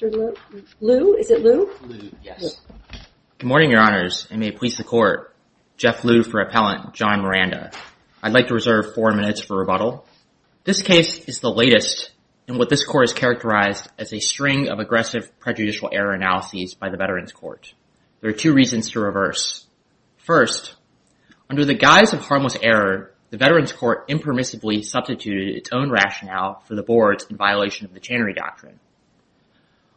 Good morning, Your Honors, and may it please the Court. Jeff Liu for Appellant, John Miranda. I'd like to reserve four minutes for rebuttal. This case is the latest in what this Court has characterized as a string of aggressive prejudicial error analyses by the Veterans Court. There are two reasons to reverse. First, under the guise of harmless error, the Veterans Court impermissibly substituted its own rationale for the boards in violation of the Chanery Doctrine.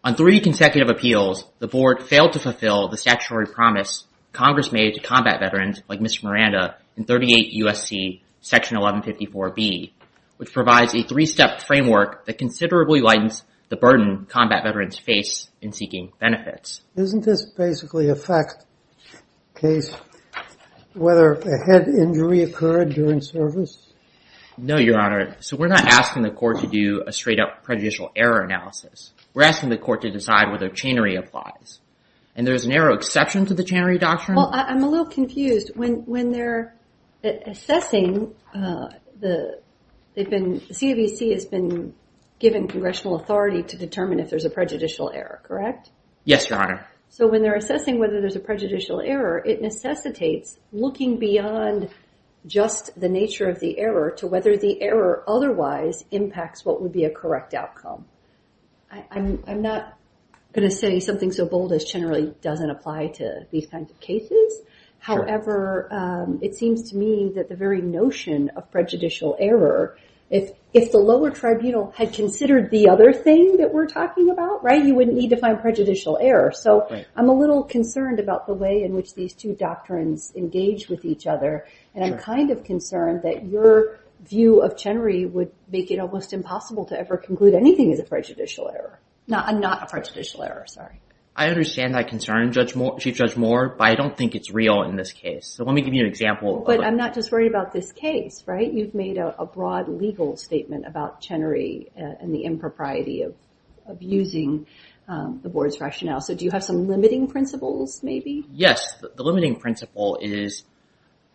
On three consecutive appeals, the board failed to fulfill the statutory promise Congress made to combat veterans like Mr. Miranda in 38 U.S.C. Section 1154B, which provides a three-step framework that considerably lightens the burden combat veterans face in seeking benefits. Isn't this basically a fact case whether a head injury occurred during service? No, Your Honor. So we're not asking the Court to do a straight-up prejudicial error analysis. We're asking the Court to decide whether Chanery applies. And there's a narrow exception to the Chanery Doctrine? Well, I'm a little confused. When they're assessing, the CAVC has been given congressional authority to determine if there's a prejudicial error, correct? Yes, Your Honor. So when they're assessing whether there's a prejudicial error, it necessitates looking beyond just the nature of the error to whether the error otherwise impacts what would be a correct outcome. I'm not going to say something so bold as Chanery doesn't apply to these kinds of cases. However, it seems to me that the very notion of prejudicial error, if the lower tribunal had considered the other thing that we're talking about, right, you wouldn't need to find prejudicial error. So I'm a little concerned about the way in which these two engage with each other. And I'm kind of concerned that your view of Chanery would make it almost impossible to ever conclude anything is a prejudicial error. Not a prejudicial error, sorry. I understand that concern, Chief Judge Moore, but I don't think it's real in this case. So let me give you an example. But I'm not just worried about this case, right? You've made a broad legal statement about Chanery and the impropriety of using the board's rationale. So do you have some limiting principles maybe? Yes, the limiting principle is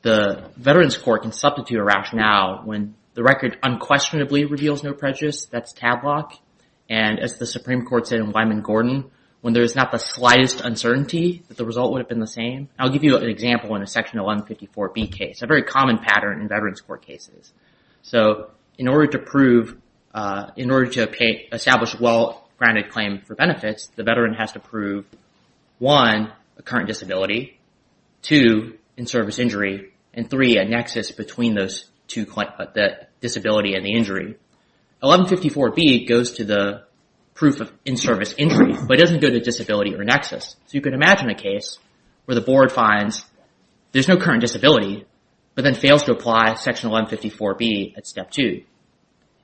the Veterans Court can substitute a rationale when the record unquestionably reveals no prejudice. That's Tadlock. And as the Supreme Court said in Wyman Gordon, when there is not the slightest uncertainty that the result would have been the same. I'll give you an example in a Section 1154B case, a very common pattern in Veterans Court cases. So in order to prove, in order to pay, establish a well-grounded claim for benefits, the veteran has to prove one, a current disability, two, in-service injury, and three, a nexus between those two, the disability and the injury. 1154B goes to the proof of in-service injury, but it doesn't go to disability or nexus. So you can imagine a case where the board finds there's no current disability, but then fails to apply Section 1154B at step two.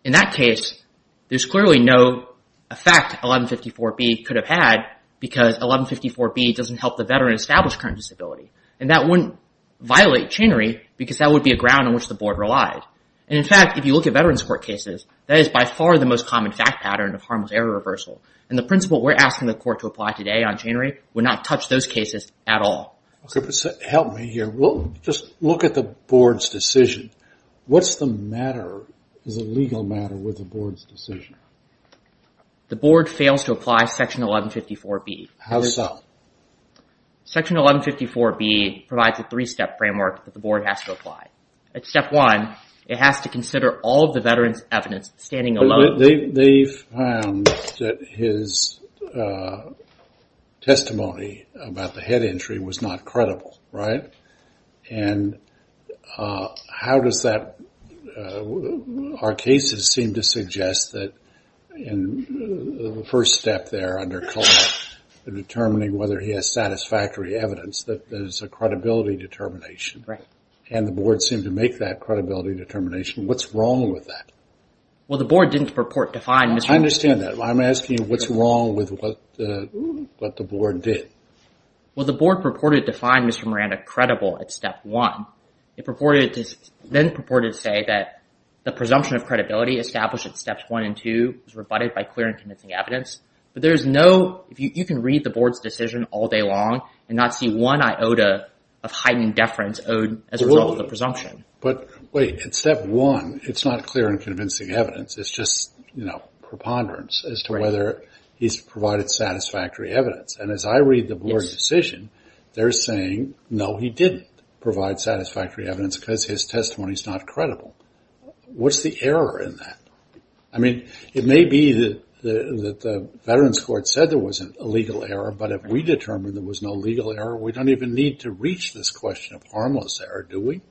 In that case, there's clearly no effect 1154B could have had because 1154B doesn't help the veteran establish current disability. And that wouldn't violate channery because that would be a ground on which the board relied. And in fact, if you look at Veterans Court cases, that is by far the most common fact pattern of harmless error reversal. And the principle we're asking the court to apply today on channery would not touch those cases at all. Okay, but help me just look at the board's decision. What's the matter, is it a legal matter with the board's decision? The board fails to apply Section 1154B. How so? Section 1154B provides a three-step framework that the board has to apply. At step one, it has to consider all of the veteran's evidence standing alone. They found that his testimony about the head injury was not credible, right? And how does that... Our cases seem to suggest that in the first step there under COLA, determining whether he has satisfactory evidence, that there's a credibility determination. And the board seemed to make that credibility determination. What's wrong with that? Well, the board didn't purport to find... I understand that. I'm asking you what's wrong with what the board did. Well, the board purported to find Mr. Miranda credible at step one. It then purported to say that the presumption of credibility established at steps one and two was rebutted by clear and convincing evidence. But there's no... You can read the board's decision all day long and not see one iota of heightened deference owed as a result of the presumption. But wait, at step one, it's not clear and convincing evidence. It's just preponderance as to whether he's provided satisfactory evidence. And as I read the board's decision, they're saying, no, he didn't provide satisfactory evidence because his testimony is not credible. What's the error in that? I mean, it may be that the veteran's court said there wasn't a legal error. But if we determined there was no legal error, we don't even need to reach this question of harmless error, do we?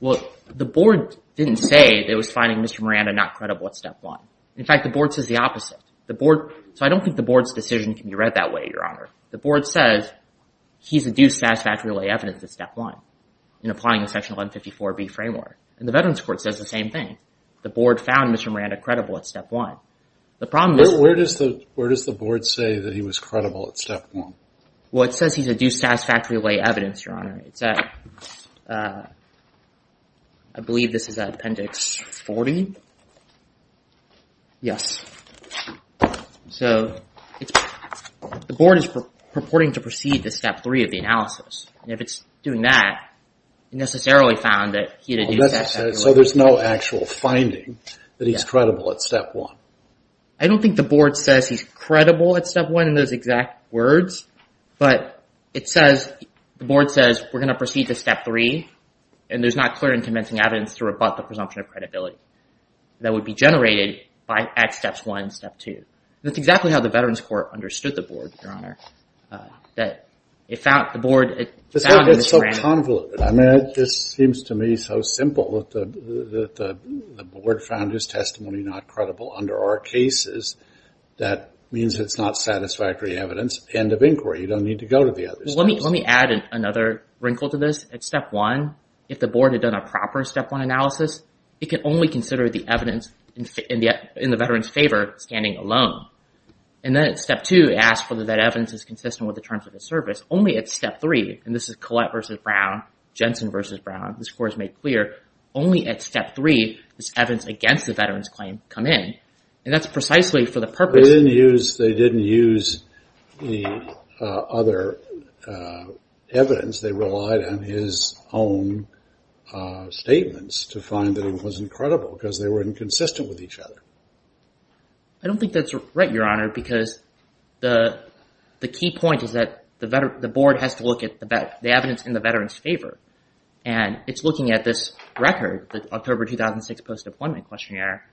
Well, the board didn't say that it was finding Mr. Miranda not credible at step one. In fact, the board says the opposite. The board... So I don't think the board's decision can be read that way, Your Honor. The board says he's a due satisfactory lay evidence at step one in applying the section 154B framework. And the veteran's court says the same thing. The board found Mr. Miranda credible at step one. The problem is... Where does the board say that he was credible at step one? Well, it says he's a due satisfactory lay evidence, Your Honor. It's at, I believe this is at appendix 40. Yes. So the board is purporting to proceed to step three of the analysis. And if it's doing that, it necessarily found that he's a due satisfactory lay... So there's no actual finding that he's credible at step one. I don't think the board says he's credible at step one in those exact words. But it says, the board says, we're going to proceed to step three. And there's not clear and convincing evidence to rebut the presumption of credibility that would be generated by at steps one, step two. That's exactly how the veteran's court understood the board, Your Honor. That it found the board... It's so convoluted. I mean, it just seems to me so simple that the board found his testimony not credible under our cases. That means it's not satisfactory evidence. End of inquiry. You don't need to go to the step one. If the board had done a proper step one analysis, it can only consider the evidence in the veteran's favor standing alone. And then at step two, it asks whether that evidence is consistent with the terms of the service. Only at step three, and this is Collette versus Brown, Jensen versus Brown, this court has made clear, only at step three, this evidence against the veteran's claim come in. And that's precisely for the purpose... They didn't use the other evidence. They relied on his own statements to find that it was incredible because they were inconsistent with each other. I don't think that's right, Your Honor, because the key point is that the board has to look at the evidence in the veteran's favor. And it's looking at this record, the October 2006 post-deployment questionnaire,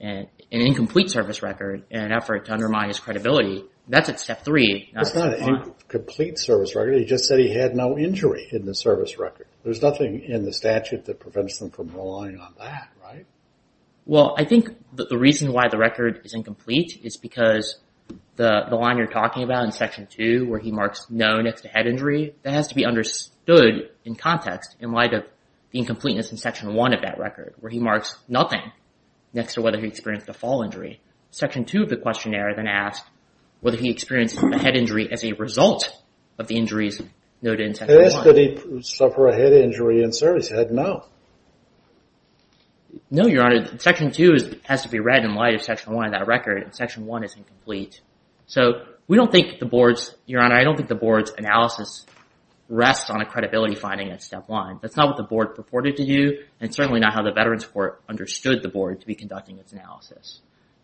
an incomplete service record in an effort to undermine his credibility. That's at step three. It's not an incomplete service record. He just said he had no injury in the service record. There's nothing in the statute that prevents them from relying on that, right? Well, I think that the reason why the record is incomplete is because the line you're talking about in section two, where he marks no next to head injury, that has to be understood in context in light of the incompleteness in section one of that record, where he marks nothing next to whether he experienced a fall injury. Section two of the questionnaire then asks whether he experienced a head injury as a result of the injuries noted in section one. It asks did he suffer a head injury in service? He had no. No, Your Honor. Section two has to be read in light of section one of that record, and section one is incomplete. So we don't think the board's, Your Honor, I don't think the board's analysis rests on a credibility finding at step one. That's not what the board purported to do, and certainly not how the Veterans Court understood the board to be conducting its analysis.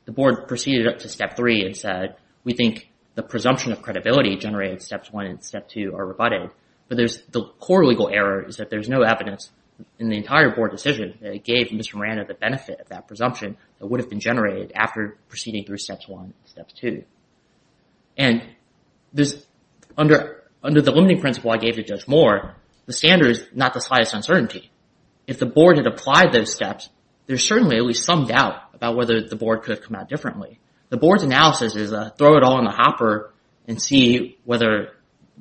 The board proceeded up to step three and said, we think the presumption of credibility generated steps one and step two are rebutted, but the core legal error is that there's no evidence in the entire board decision that it gave Mr. Miranda the benefit of that presumption that would have been generated after proceeding through steps one and steps two. And under the limiting principle I gave to Judge Moore, the standard is not the slightest uncertainty. If the board had applied those steps, there's certainly at least some doubt about whether the board could have come out differently. The board's analysis is, throw it all in the hopper and see whether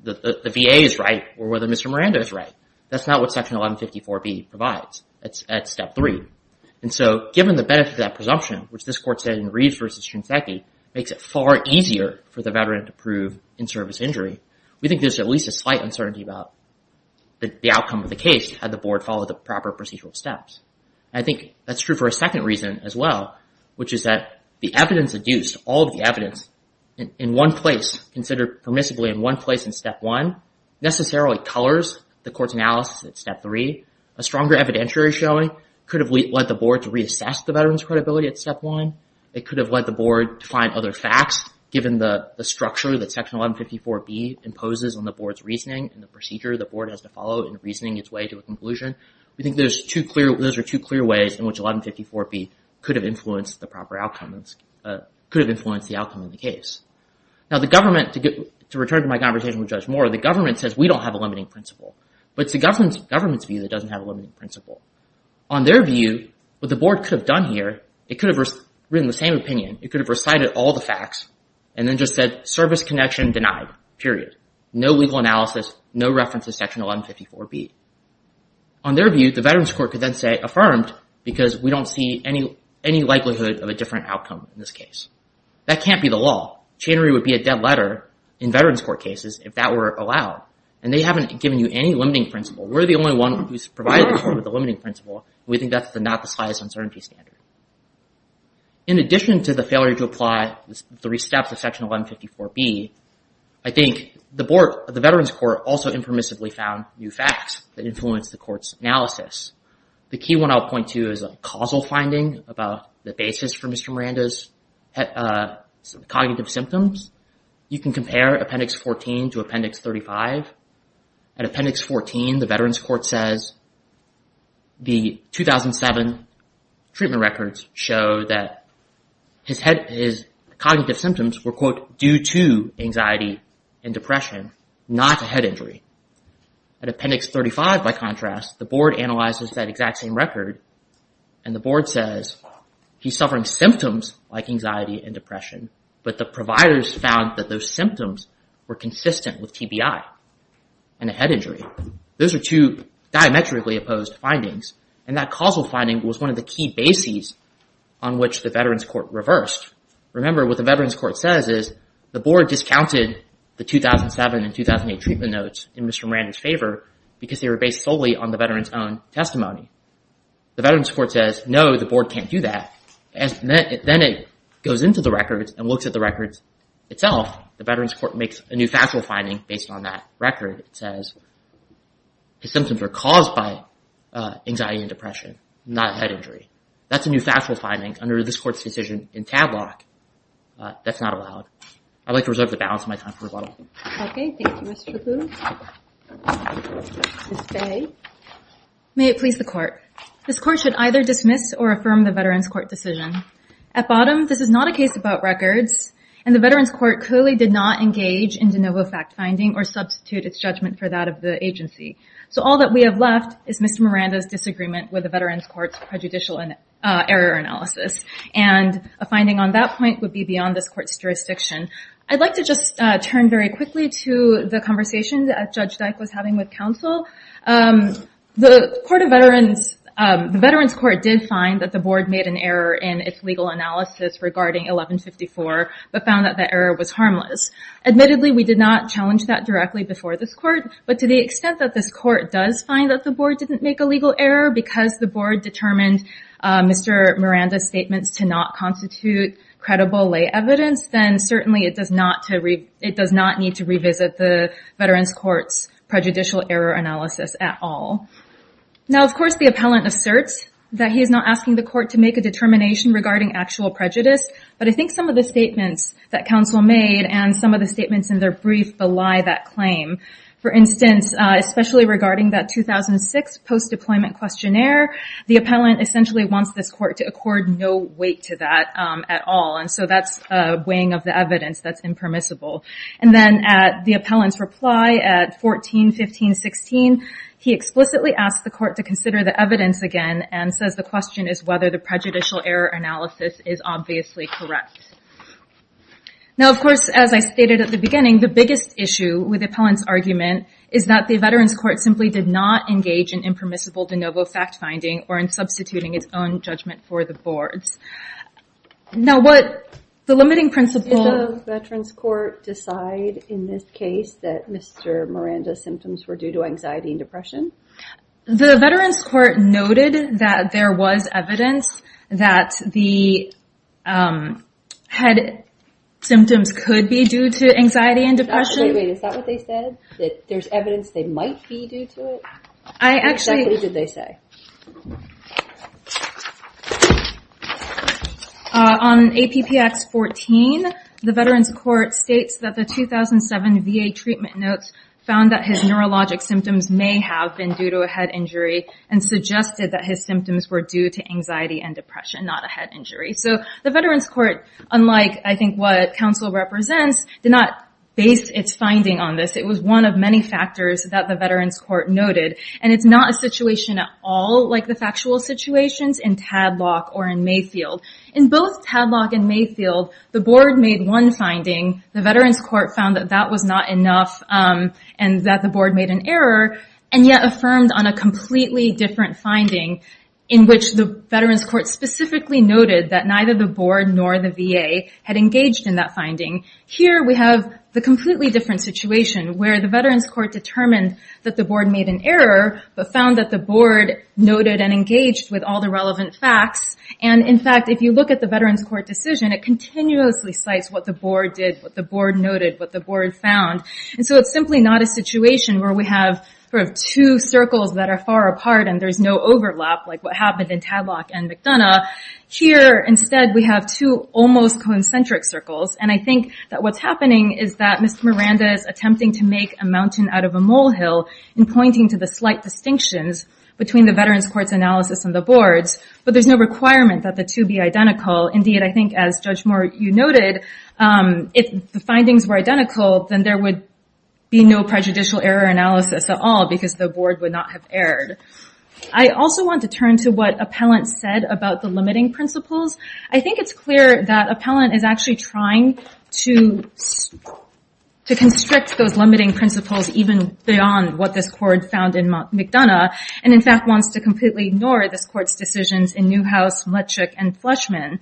the VA is right or whether Mr. Miranda is right. That's not what section 1154B provides at step three. And so given the benefit of that presumption, which this court said in Reeves v. Shinseki, makes it far easier for the veteran to prove in-service injury. We think there's at least a slight uncertainty about the outcome of the case had the board followed the proper procedural steps. I think that's true for a second reason as well, which is that the evidence adduced, all of the evidence in one place considered permissibly in one place in step one necessarily colors the court's analysis at step three. A stronger evidentiary showing could have led the board to reassess the veteran's credibility at step one. It could have led the board to find other facts given the structure that section 1154B imposes on the board's reasoning and the procedure the board has to follow in reasoning its way to conclusion. We think those are two clear ways in which 1154B could have influenced the proper outcome, could have influenced the outcome of the case. Now the government, to return to my conversation with Judge Moore, the government says we don't have a limiting principle. But it's the government's view that doesn't have a limiting principle. On their view, what the board could have done here, it could have written the same opinion. It could have recited all the facts and then just said service connection denied, period. No legal analysis, no reference to on their view, the veterans court could then say affirmed because we don't see any likelihood of a different outcome in this case. That can't be the law. Chainery would be a dead letter in veterans court cases if that were allowed. And they haven't given you any limiting principle. We're the only one who's provided the limiting principle. We think that's the not the slightest uncertainty standard. In addition to the failure to apply the three steps of section 1154B, I think the board, the veterans court also impermissibly found new facts that influenced the court's analysis. The key one I'll point to is a causal finding about the basis for Mr. Miranda's cognitive symptoms. You can compare appendix 14 to appendix 35. At appendix 14, the veterans court says the 2007 treatment records show that his head, his cognitive symptoms were, quote, due to anxiety and depression, not a head injury. At appendix 35, by contrast, the board analyzes that exact same record. And the board says he's suffering symptoms like anxiety and depression, but the providers found that those symptoms were consistent with TBI and a head injury. Those are two diametrically opposed findings. And that causal finding was one of the key bases on which the veterans court reversed. Remember, what the veterans court says is the board discounted the 2007 and 2008 treatment notes in Mr. Miranda's favor because they were based solely on the veterans' own testimony. The veterans court says, no, the board can't do that. And then it goes into the records and looks at the records itself. The veterans court makes a new factual finding based on that record. It says his symptoms were caused by anxiety and depression, not a head injury. That's a new factual finding under this court's decision in Tadlock. That's not allowed. I'd like to reserve the balance of my time for rebuttal. Okay. Thank you, Mr. Shapoo. Ms. Faye. May it please the court. This court should either dismiss or affirm the veterans court decision. At bottom, this is not a case about records. And the veterans court clearly did not engage in de novo fact finding or substitute its judgment for that of the agency. So all that we have left is Mr. Miranda's disagreement with the veterans court's prejudicial error analysis. And a finding on that point would be beyond this court's jurisdiction. I'd like to just turn very quickly to the conversation that Judge Dyke was having with counsel. The veterans court did find that the board made an error in its legal analysis regarding 1154, but found that the error was harmless. Admittedly, we did not challenge that directly before this court. But to the extent that this court does find that the board didn't make a legal error because the board determined Mr. Miranda's statements to not constitute credible lay evidence, then certainly it does not need to revisit the veterans court's prejudicial error analysis at all. Now, of course, the appellant asserts that he is not asking the court to make a determination regarding actual prejudice. But I think some of the statements that counsel made and some of the statements in their brief, belie that claim. For instance, especially regarding that 2006 post-deployment questionnaire, the appellant essentially wants this court to accord no weight to that at all. And so that's a weighing of the evidence that's impermissible. And then at the appellant's reply at 14, 15, 16, he explicitly asked the court to consider the evidence again and says the question is whether the prejudicial error analysis is obviously correct. Now, of course, as I stated at the issue with appellant's argument is that the veterans court simply did not engage in impermissible de novo fact-finding or in substituting its own judgment for the boards. Now, what the limiting principle... Did the veterans court decide in this case that Mr. Miranda's symptoms were due to anxiety and depression? The veterans court noted that there was evidence that the head symptoms could be due to anxiety and depression. Wait, wait. Is that what they said? That there's evidence they might be due to it? I actually... Exactly what did they say? On APPX 14, the veterans court states that the 2007 VA treatment notes found that his neurologic symptoms may have been due to a head injury and suggested that his symptoms were due to anxiety and depression, not a head injury. So the veterans court, unlike I think what council represents, did not base its finding on this. It was one of many factors that the veterans court noted and it's not a situation at all like the factual situations in Tadlock or in Mayfield. In both Tadlock and Mayfield, the board made one finding, the veterans court found that that was not enough and that the board made an error and yet affirmed on a completely different finding in which the veterans court specifically noted that neither the board nor the VA had engaged in that finding. Here we have the completely different situation where the veterans court determined that the board made an error, but found that the board noted and engaged with all the relevant facts. And in fact, if you look at the veterans court decision, it continuously cites what the board did, what the board noted, what the board found. And so it's simply not a like what happened in Tadlock and McDonough. Here, instead, we have two almost concentric circles. And I think that what's happening is that Mr. Miranda is attempting to make a mountain out of a molehill in pointing to the slight distinctions between the veterans court's analysis and the board's, but there's no requirement that the two be identical. Indeed, I think as Judge Moore, you noted, if the findings were identical, then there would be no prejudicial error analysis at all because the board would not have erred. I also want to turn to what appellant said about the limiting principles. I think it's clear that appellant is actually trying to constrict those limiting principles, even beyond what this court found in McDonough. And in fact, wants to completely ignore this court's decisions in Newhouse, Mletchik, and Fleshman.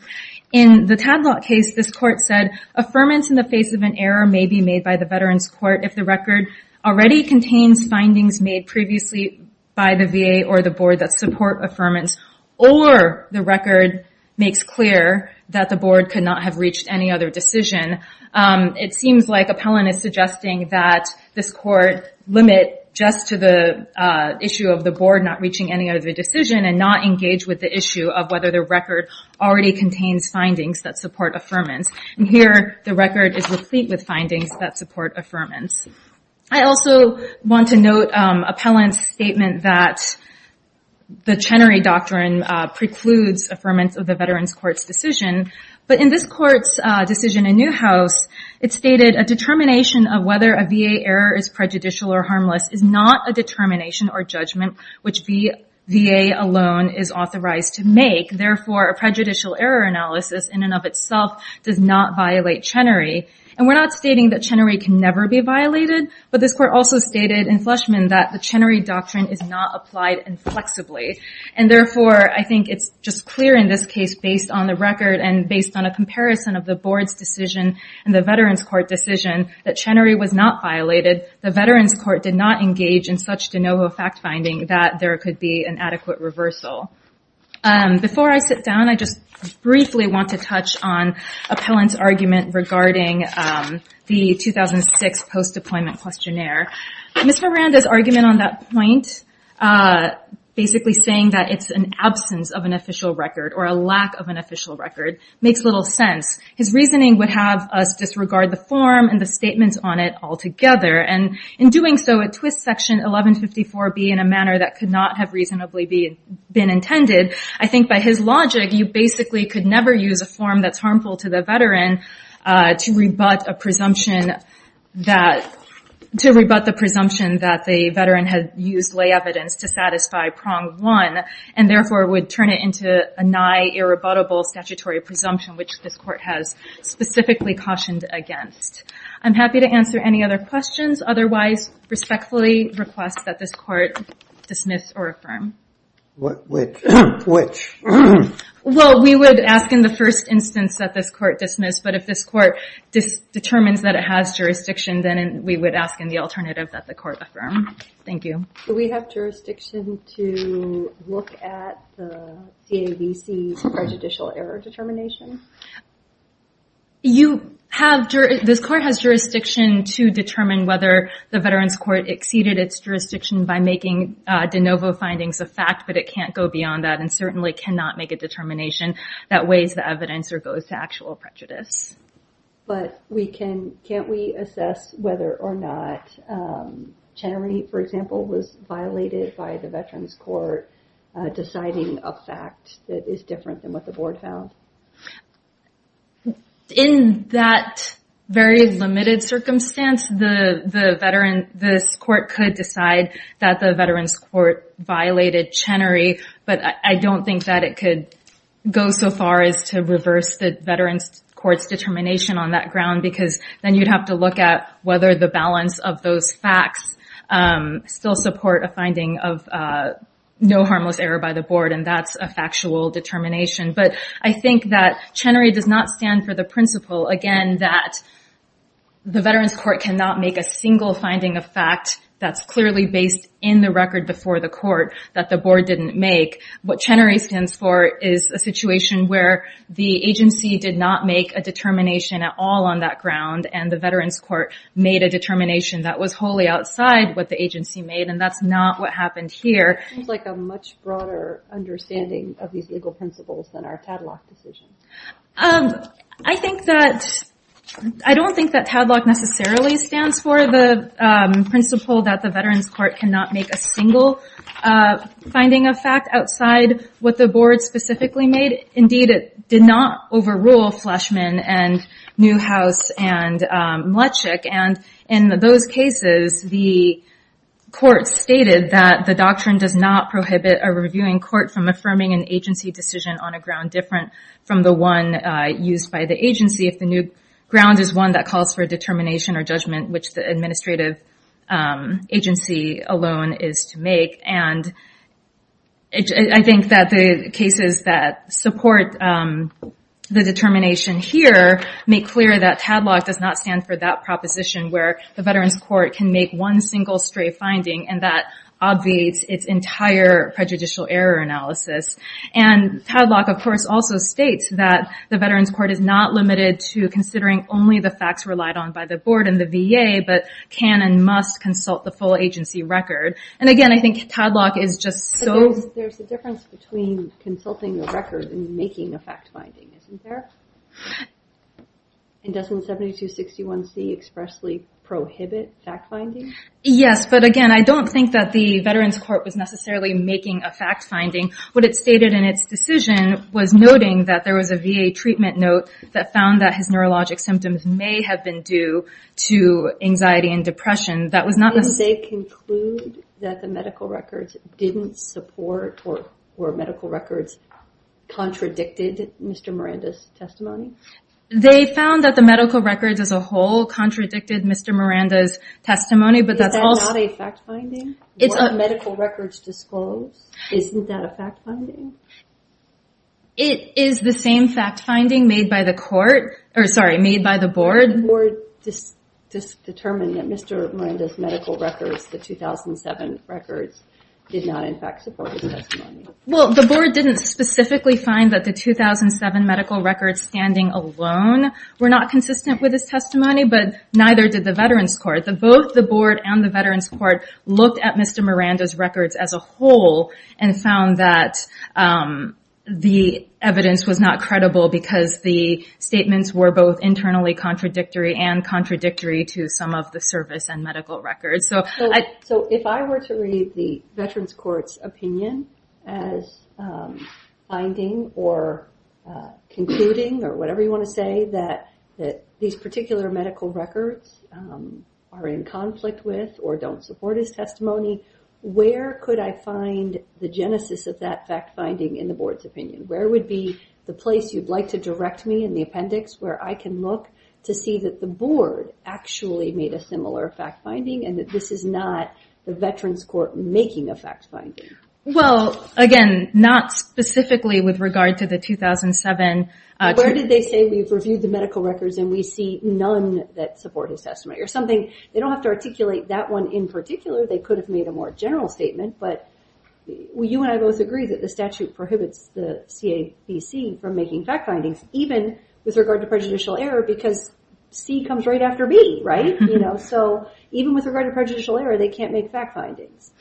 In the Tadlock case, this court said affirmance in the face of an error may be made by the veterans court if the record already contains findings made previously by the VA or the board that support affirmance, or the record makes clear that the board could not have reached any other decision. It seems like appellant is suggesting that this court limit just to the issue of the board not reaching any other decision and not engage with the issue of whether the record already contains findings that support affirmance. And here, the record is replete with findings that support affirmance. I also want to note appellant's statement that the Chenery Doctrine precludes affirmance of the veterans court's decision. But in this court's decision in Newhouse, it stated a determination of whether a VA error is prejudicial or harmless is not a determination or judgment which the VA alone is authorized to make. Therefore, a prejudicial error analysis in and of itself does not violate Chenery. And we're not stating that Chenery can never be violated, but this court also stated in Fleshman that the Chenery Doctrine is not applied inflexibly. And therefore, I think it's just clear in this case based on the record and based on a comparison of the board's decision and the veterans court decision that Chenery was not violated. The veterans court did not engage in such de novo fact finding that there could be an adequate reversal. Before I sit down, I just briefly want to touch on appellant's argument regarding the 2006 post-deployment questionnaire. Ms. Miranda's argument on that point, basically saying that it's an absence of an official record or a lack of an official record, makes little sense. His reasoning would have us disregard the form and the statements on it altogether. And in doing so, it twists Section 1154B in a manner that could not have reasonably been intended. I think by his logic, you basically could never use a form that's harmful to the veteran to rebut the presumption that the veteran had used lay evidence to satisfy prong one, and therefore would turn it into a nigh irrebuttable statutory presumption, which this court has specifically cautioned against. I'm happy to answer any other questions. Otherwise, respectfully request that this court dismiss or affirm. Which? Well, we would ask in the first instance that this court dismiss. But if this court just determines that it has jurisdiction, then we would ask in the alternative that the court affirm. Thank you. Do we have jurisdiction to look at the CAVC's prejudicial error determination? You have. This court has jurisdiction to determine whether the Veterans Court exceeded its jurisdiction by making de novo findings of fact, but it can't go beyond that and certainly cannot make a determination that weighs the evidence or goes to actual prejudice. But we can, can't we assess whether or not Channery, for example, was violated by the Veterans Court deciding a fact that is different than what the board found? In that very limited circumstance, the veteran, this court could decide that the Veterans Court violated Channery, but I don't think that it could go so far as to reverse the Veterans Court's determination on that ground, because then you'd have to look at whether the balance of those facts still support a finding of no harmless error by the board. And that's factual determination. But I think that Channery does not stand for the principle, again, that the Veterans Court cannot make a single finding of fact that's clearly based in the record before the court that the board didn't make. What Channery stands for is a situation where the agency did not make a determination at all on that ground, and the Veterans Court made a determination that was wholly outside what the agency made, and that's not what happened here. It seems like a much different understanding of these legal principles than our TADLOC decisions. I don't think that TADLOC necessarily stands for the principle that the Veterans Court cannot make a single finding of fact outside what the board specifically made. Indeed, it did not overrule Fleshman and Newhouse and Mlecznik. And in those cases, the court stated that the doctrine does not prohibit a reviewing court from affirming an agency decision on a ground different from the one used by the agency if the new ground is one that calls for a determination or judgment, which the administrative agency alone is to make. And I think that the cases that support the determination here make clear that TADLOC does not stand for that proposition where the Veterans Court can make one single stray finding and that obviates its entire prejudicial error analysis. And TADLOC, of course, also states that the Veterans Court is not limited to considering only the facts relied on by the board and the VA, but can and must consult the full agency record. And again, I think TADLOC is just so... There's a difference between consulting the record and making a fact finding, isn't there? And doesn't 7261C expressly prohibit fact finding? Yes, but again, I don't think that the Veterans Court was necessarily making a fact finding. What it stated in its decision was noting that there was a VA treatment note that found that his neurologic symptoms may have been due to anxiety and depression. That was not necessarily... They conclude that the medical records contradicted Mr. Miranda's testimony? They found that the medical records as a whole contradicted Mr. Miranda's testimony, but that's also... Is that not a fact finding? What medical records disclose? Isn't that a fact finding? It is the same fact finding made by the board. The board just determined that Mr. Miranda's medical records, the 2007 records, did not in fact support his testimony. Well, the board didn't specifically find that the 2007 medical records standing alone were not consistent with his testimony, but neither did the Veterans Court. Both the board and the Veterans Court looked at Mr. Miranda's records as a whole and found that the evidence was not credible because the statements were both internally contradictory and contradictory to some of the service and medical records. If I were to read the Veterans Court's opinion as finding or concluding or whatever you want to say that these particular medical records are in conflict with or don't support his testimony, where could I find the genesis of that fact finding in the board's opinion? Where would be the place you'd like to direct me in the appendix where I can look to see that the board actually made a similar fact finding and that this is not the Veterans Court making a fact finding? Well, again, not specifically with regard to the 2007- Where did they say we've reviewed the medical records and we see none that support his testimony or something? They don't have to articulate that one in particular. They could have made a more general statement, but you and I both agree that the statute prohibits the CABC from making fact because C comes right after B. Even with regard to prejudicial error, they can't make fact findings.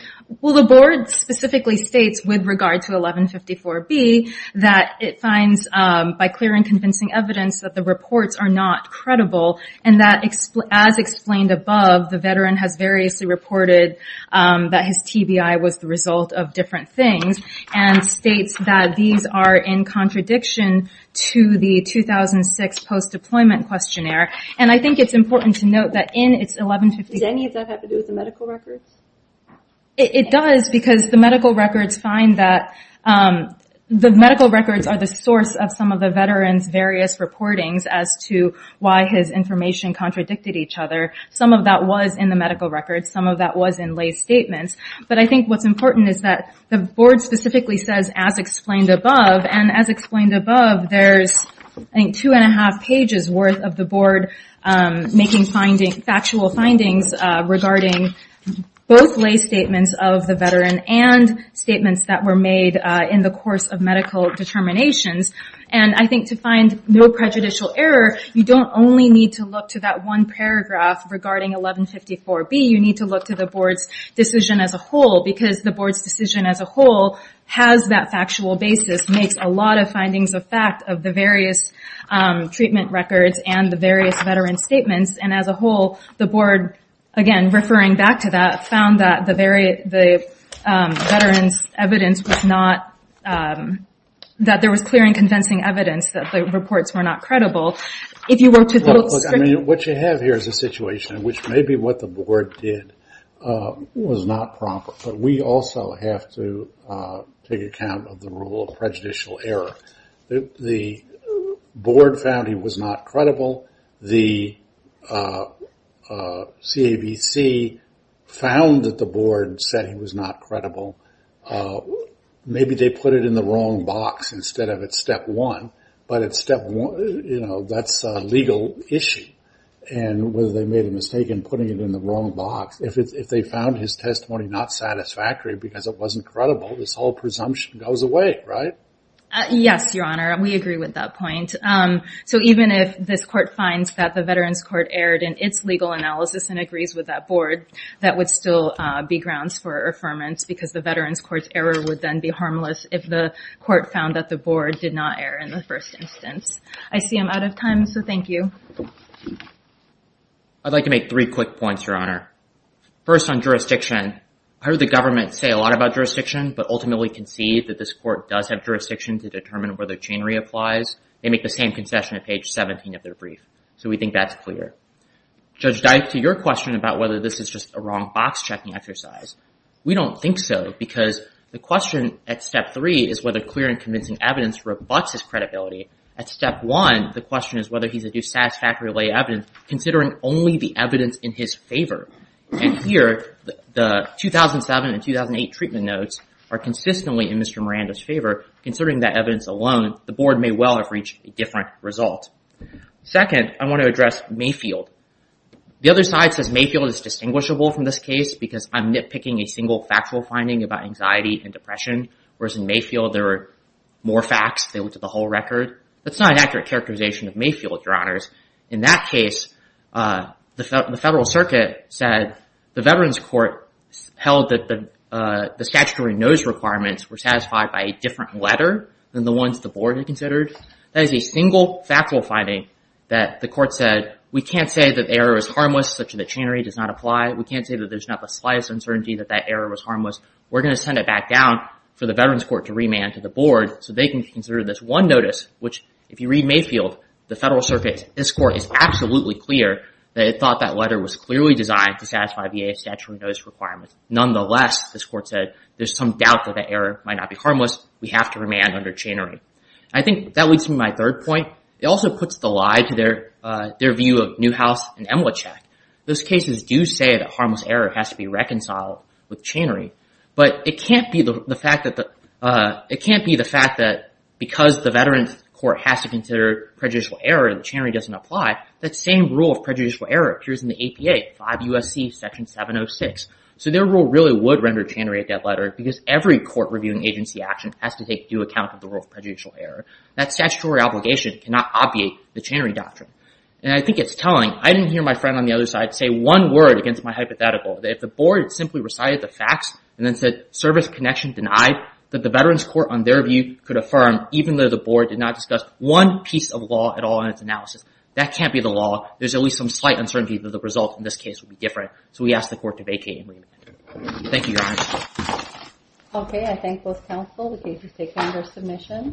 Well, the board specifically states with regard to 1154B that it finds by clear and convincing evidence that the reports are not credible and that as explained above, the veteran has variously reported that his TBI was the result of different things and states that these are in contradiction to the 2006 post-deployment questionnaire. And I think it's important to note that in its 1154- Does any of that have to do with the medical records? It does because the medical records find that the medical records are the source of some of the veterans' various reportings as to why his information contradicted each other. Some of that was in the medical records. Some of that was in lay statements. But I think what's important is that the board specifically says, as explained above, and as explained above, there's two and a half pages worth of the board making factual findings regarding both lay statements of the veteran and statements that were made in the course of medical determinations. And I think to find no prejudicial error, you don't only need to look to that one paragraph regarding 1154B. You need to look to the board's decision as makes a lot of findings of fact of the various treatment records and the various veteran statements. And as a whole, the board, again, referring back to that, found that the veterans' evidence was not- that there was clear and convincing evidence that the reports were not credible. If you were to- Look, I mean, what you have here is a situation in which maybe what the of the rule of prejudicial error. The board found he was not credible. The CABC found that the board said he was not credible. Maybe they put it in the wrong box instead of at step one. But at step one, you know, that's a legal issue. And whether they made a mistake in putting it in the wrong box, if they found his testimony not satisfactory because it wasn't goes away, right? Yes, Your Honor. We agree with that point. So even if this court finds that the veterans' court erred in its legal analysis and agrees with that board, that would still be grounds for affirmance because the veterans' court's error would then be harmless if the court found that the board did not err in the first instance. I see I'm out of time. So thank you. I'd like to make three quick points, Your Honor. First on jurisdiction. I heard the government say a lot about jurisdiction, but ultimately concede that this court does have jurisdiction to determine whether chain re-applies. They make the same concession at page 17 of their brief. So we think that's clear. Judge Dike, to your question about whether this is just a wrong box-checking exercise, we don't think so because the question at step three is whether clear and convincing evidence rebutts his credibility. At step one, the question is whether he's a dissatisfactory evidence considering only the evidence in his favor. And here, the 2007 and 2008 treatment notes are consistently in Mr. Miranda's favor. Considering that evidence alone, the board may well have reached a different result. Second, I want to address Mayfield. The other side says Mayfield is distinguishable from this case because I'm nitpicking a single factual finding about anxiety and depression, whereas in Mayfield there are more facts. They went to the whole record. That's not an accurate characterization of Mayfield, Your Honors. In that case, the Federal Circuit said the Veterans Court held that the statutory notice requirements were satisfied by a different letter than the ones the board had considered. That is a single factual finding that the court said, we can't say that the error is harmless such that chain re-does not apply. We can't say that there's not the slightest uncertainty that that error was harmless. We're going to send it back down for the Veterans Court to remand to the board so they can consider this one notice, which if you read Mayfield, the Federal Circuit, this court is absolutely clear that it thought that letter was clearly designed to satisfy VA statutory notice requirements. Nonetheless, this court said, there's some doubt that the error might not be harmless. We have to remand under chain re-. I think that leads me to my third point. It also puts the lie to their view of Newhouse and Emilichak. Those cases do say that harmless error has to be reconciled with chain re-, but can't be the fact that because the Veterans Court has to consider prejudicial error and chain re- doesn't apply, that same rule of prejudicial error appears in the APA, 5 U.S.C. Section 706. So their rule really would render chain re- that letter because every court reviewing agency action has to take due account of the rule of prejudicial error. That statutory obligation cannot obviate the chain re-doctrine. I think it's telling. I didn't hear my friend on the other side say one word against my hypothetical. If the board simply recited the facts and then service connection denied, that the Veterans Court on their view could affirm even though the board did not discuss one piece of law at all in its analysis. That can't be the law. There's at least some slight uncertainty that the result in this case would be different. So we ask the court to vacate and remand. Thank you, Your Honor. Okay. I thank both counsel. The case is taken under submission.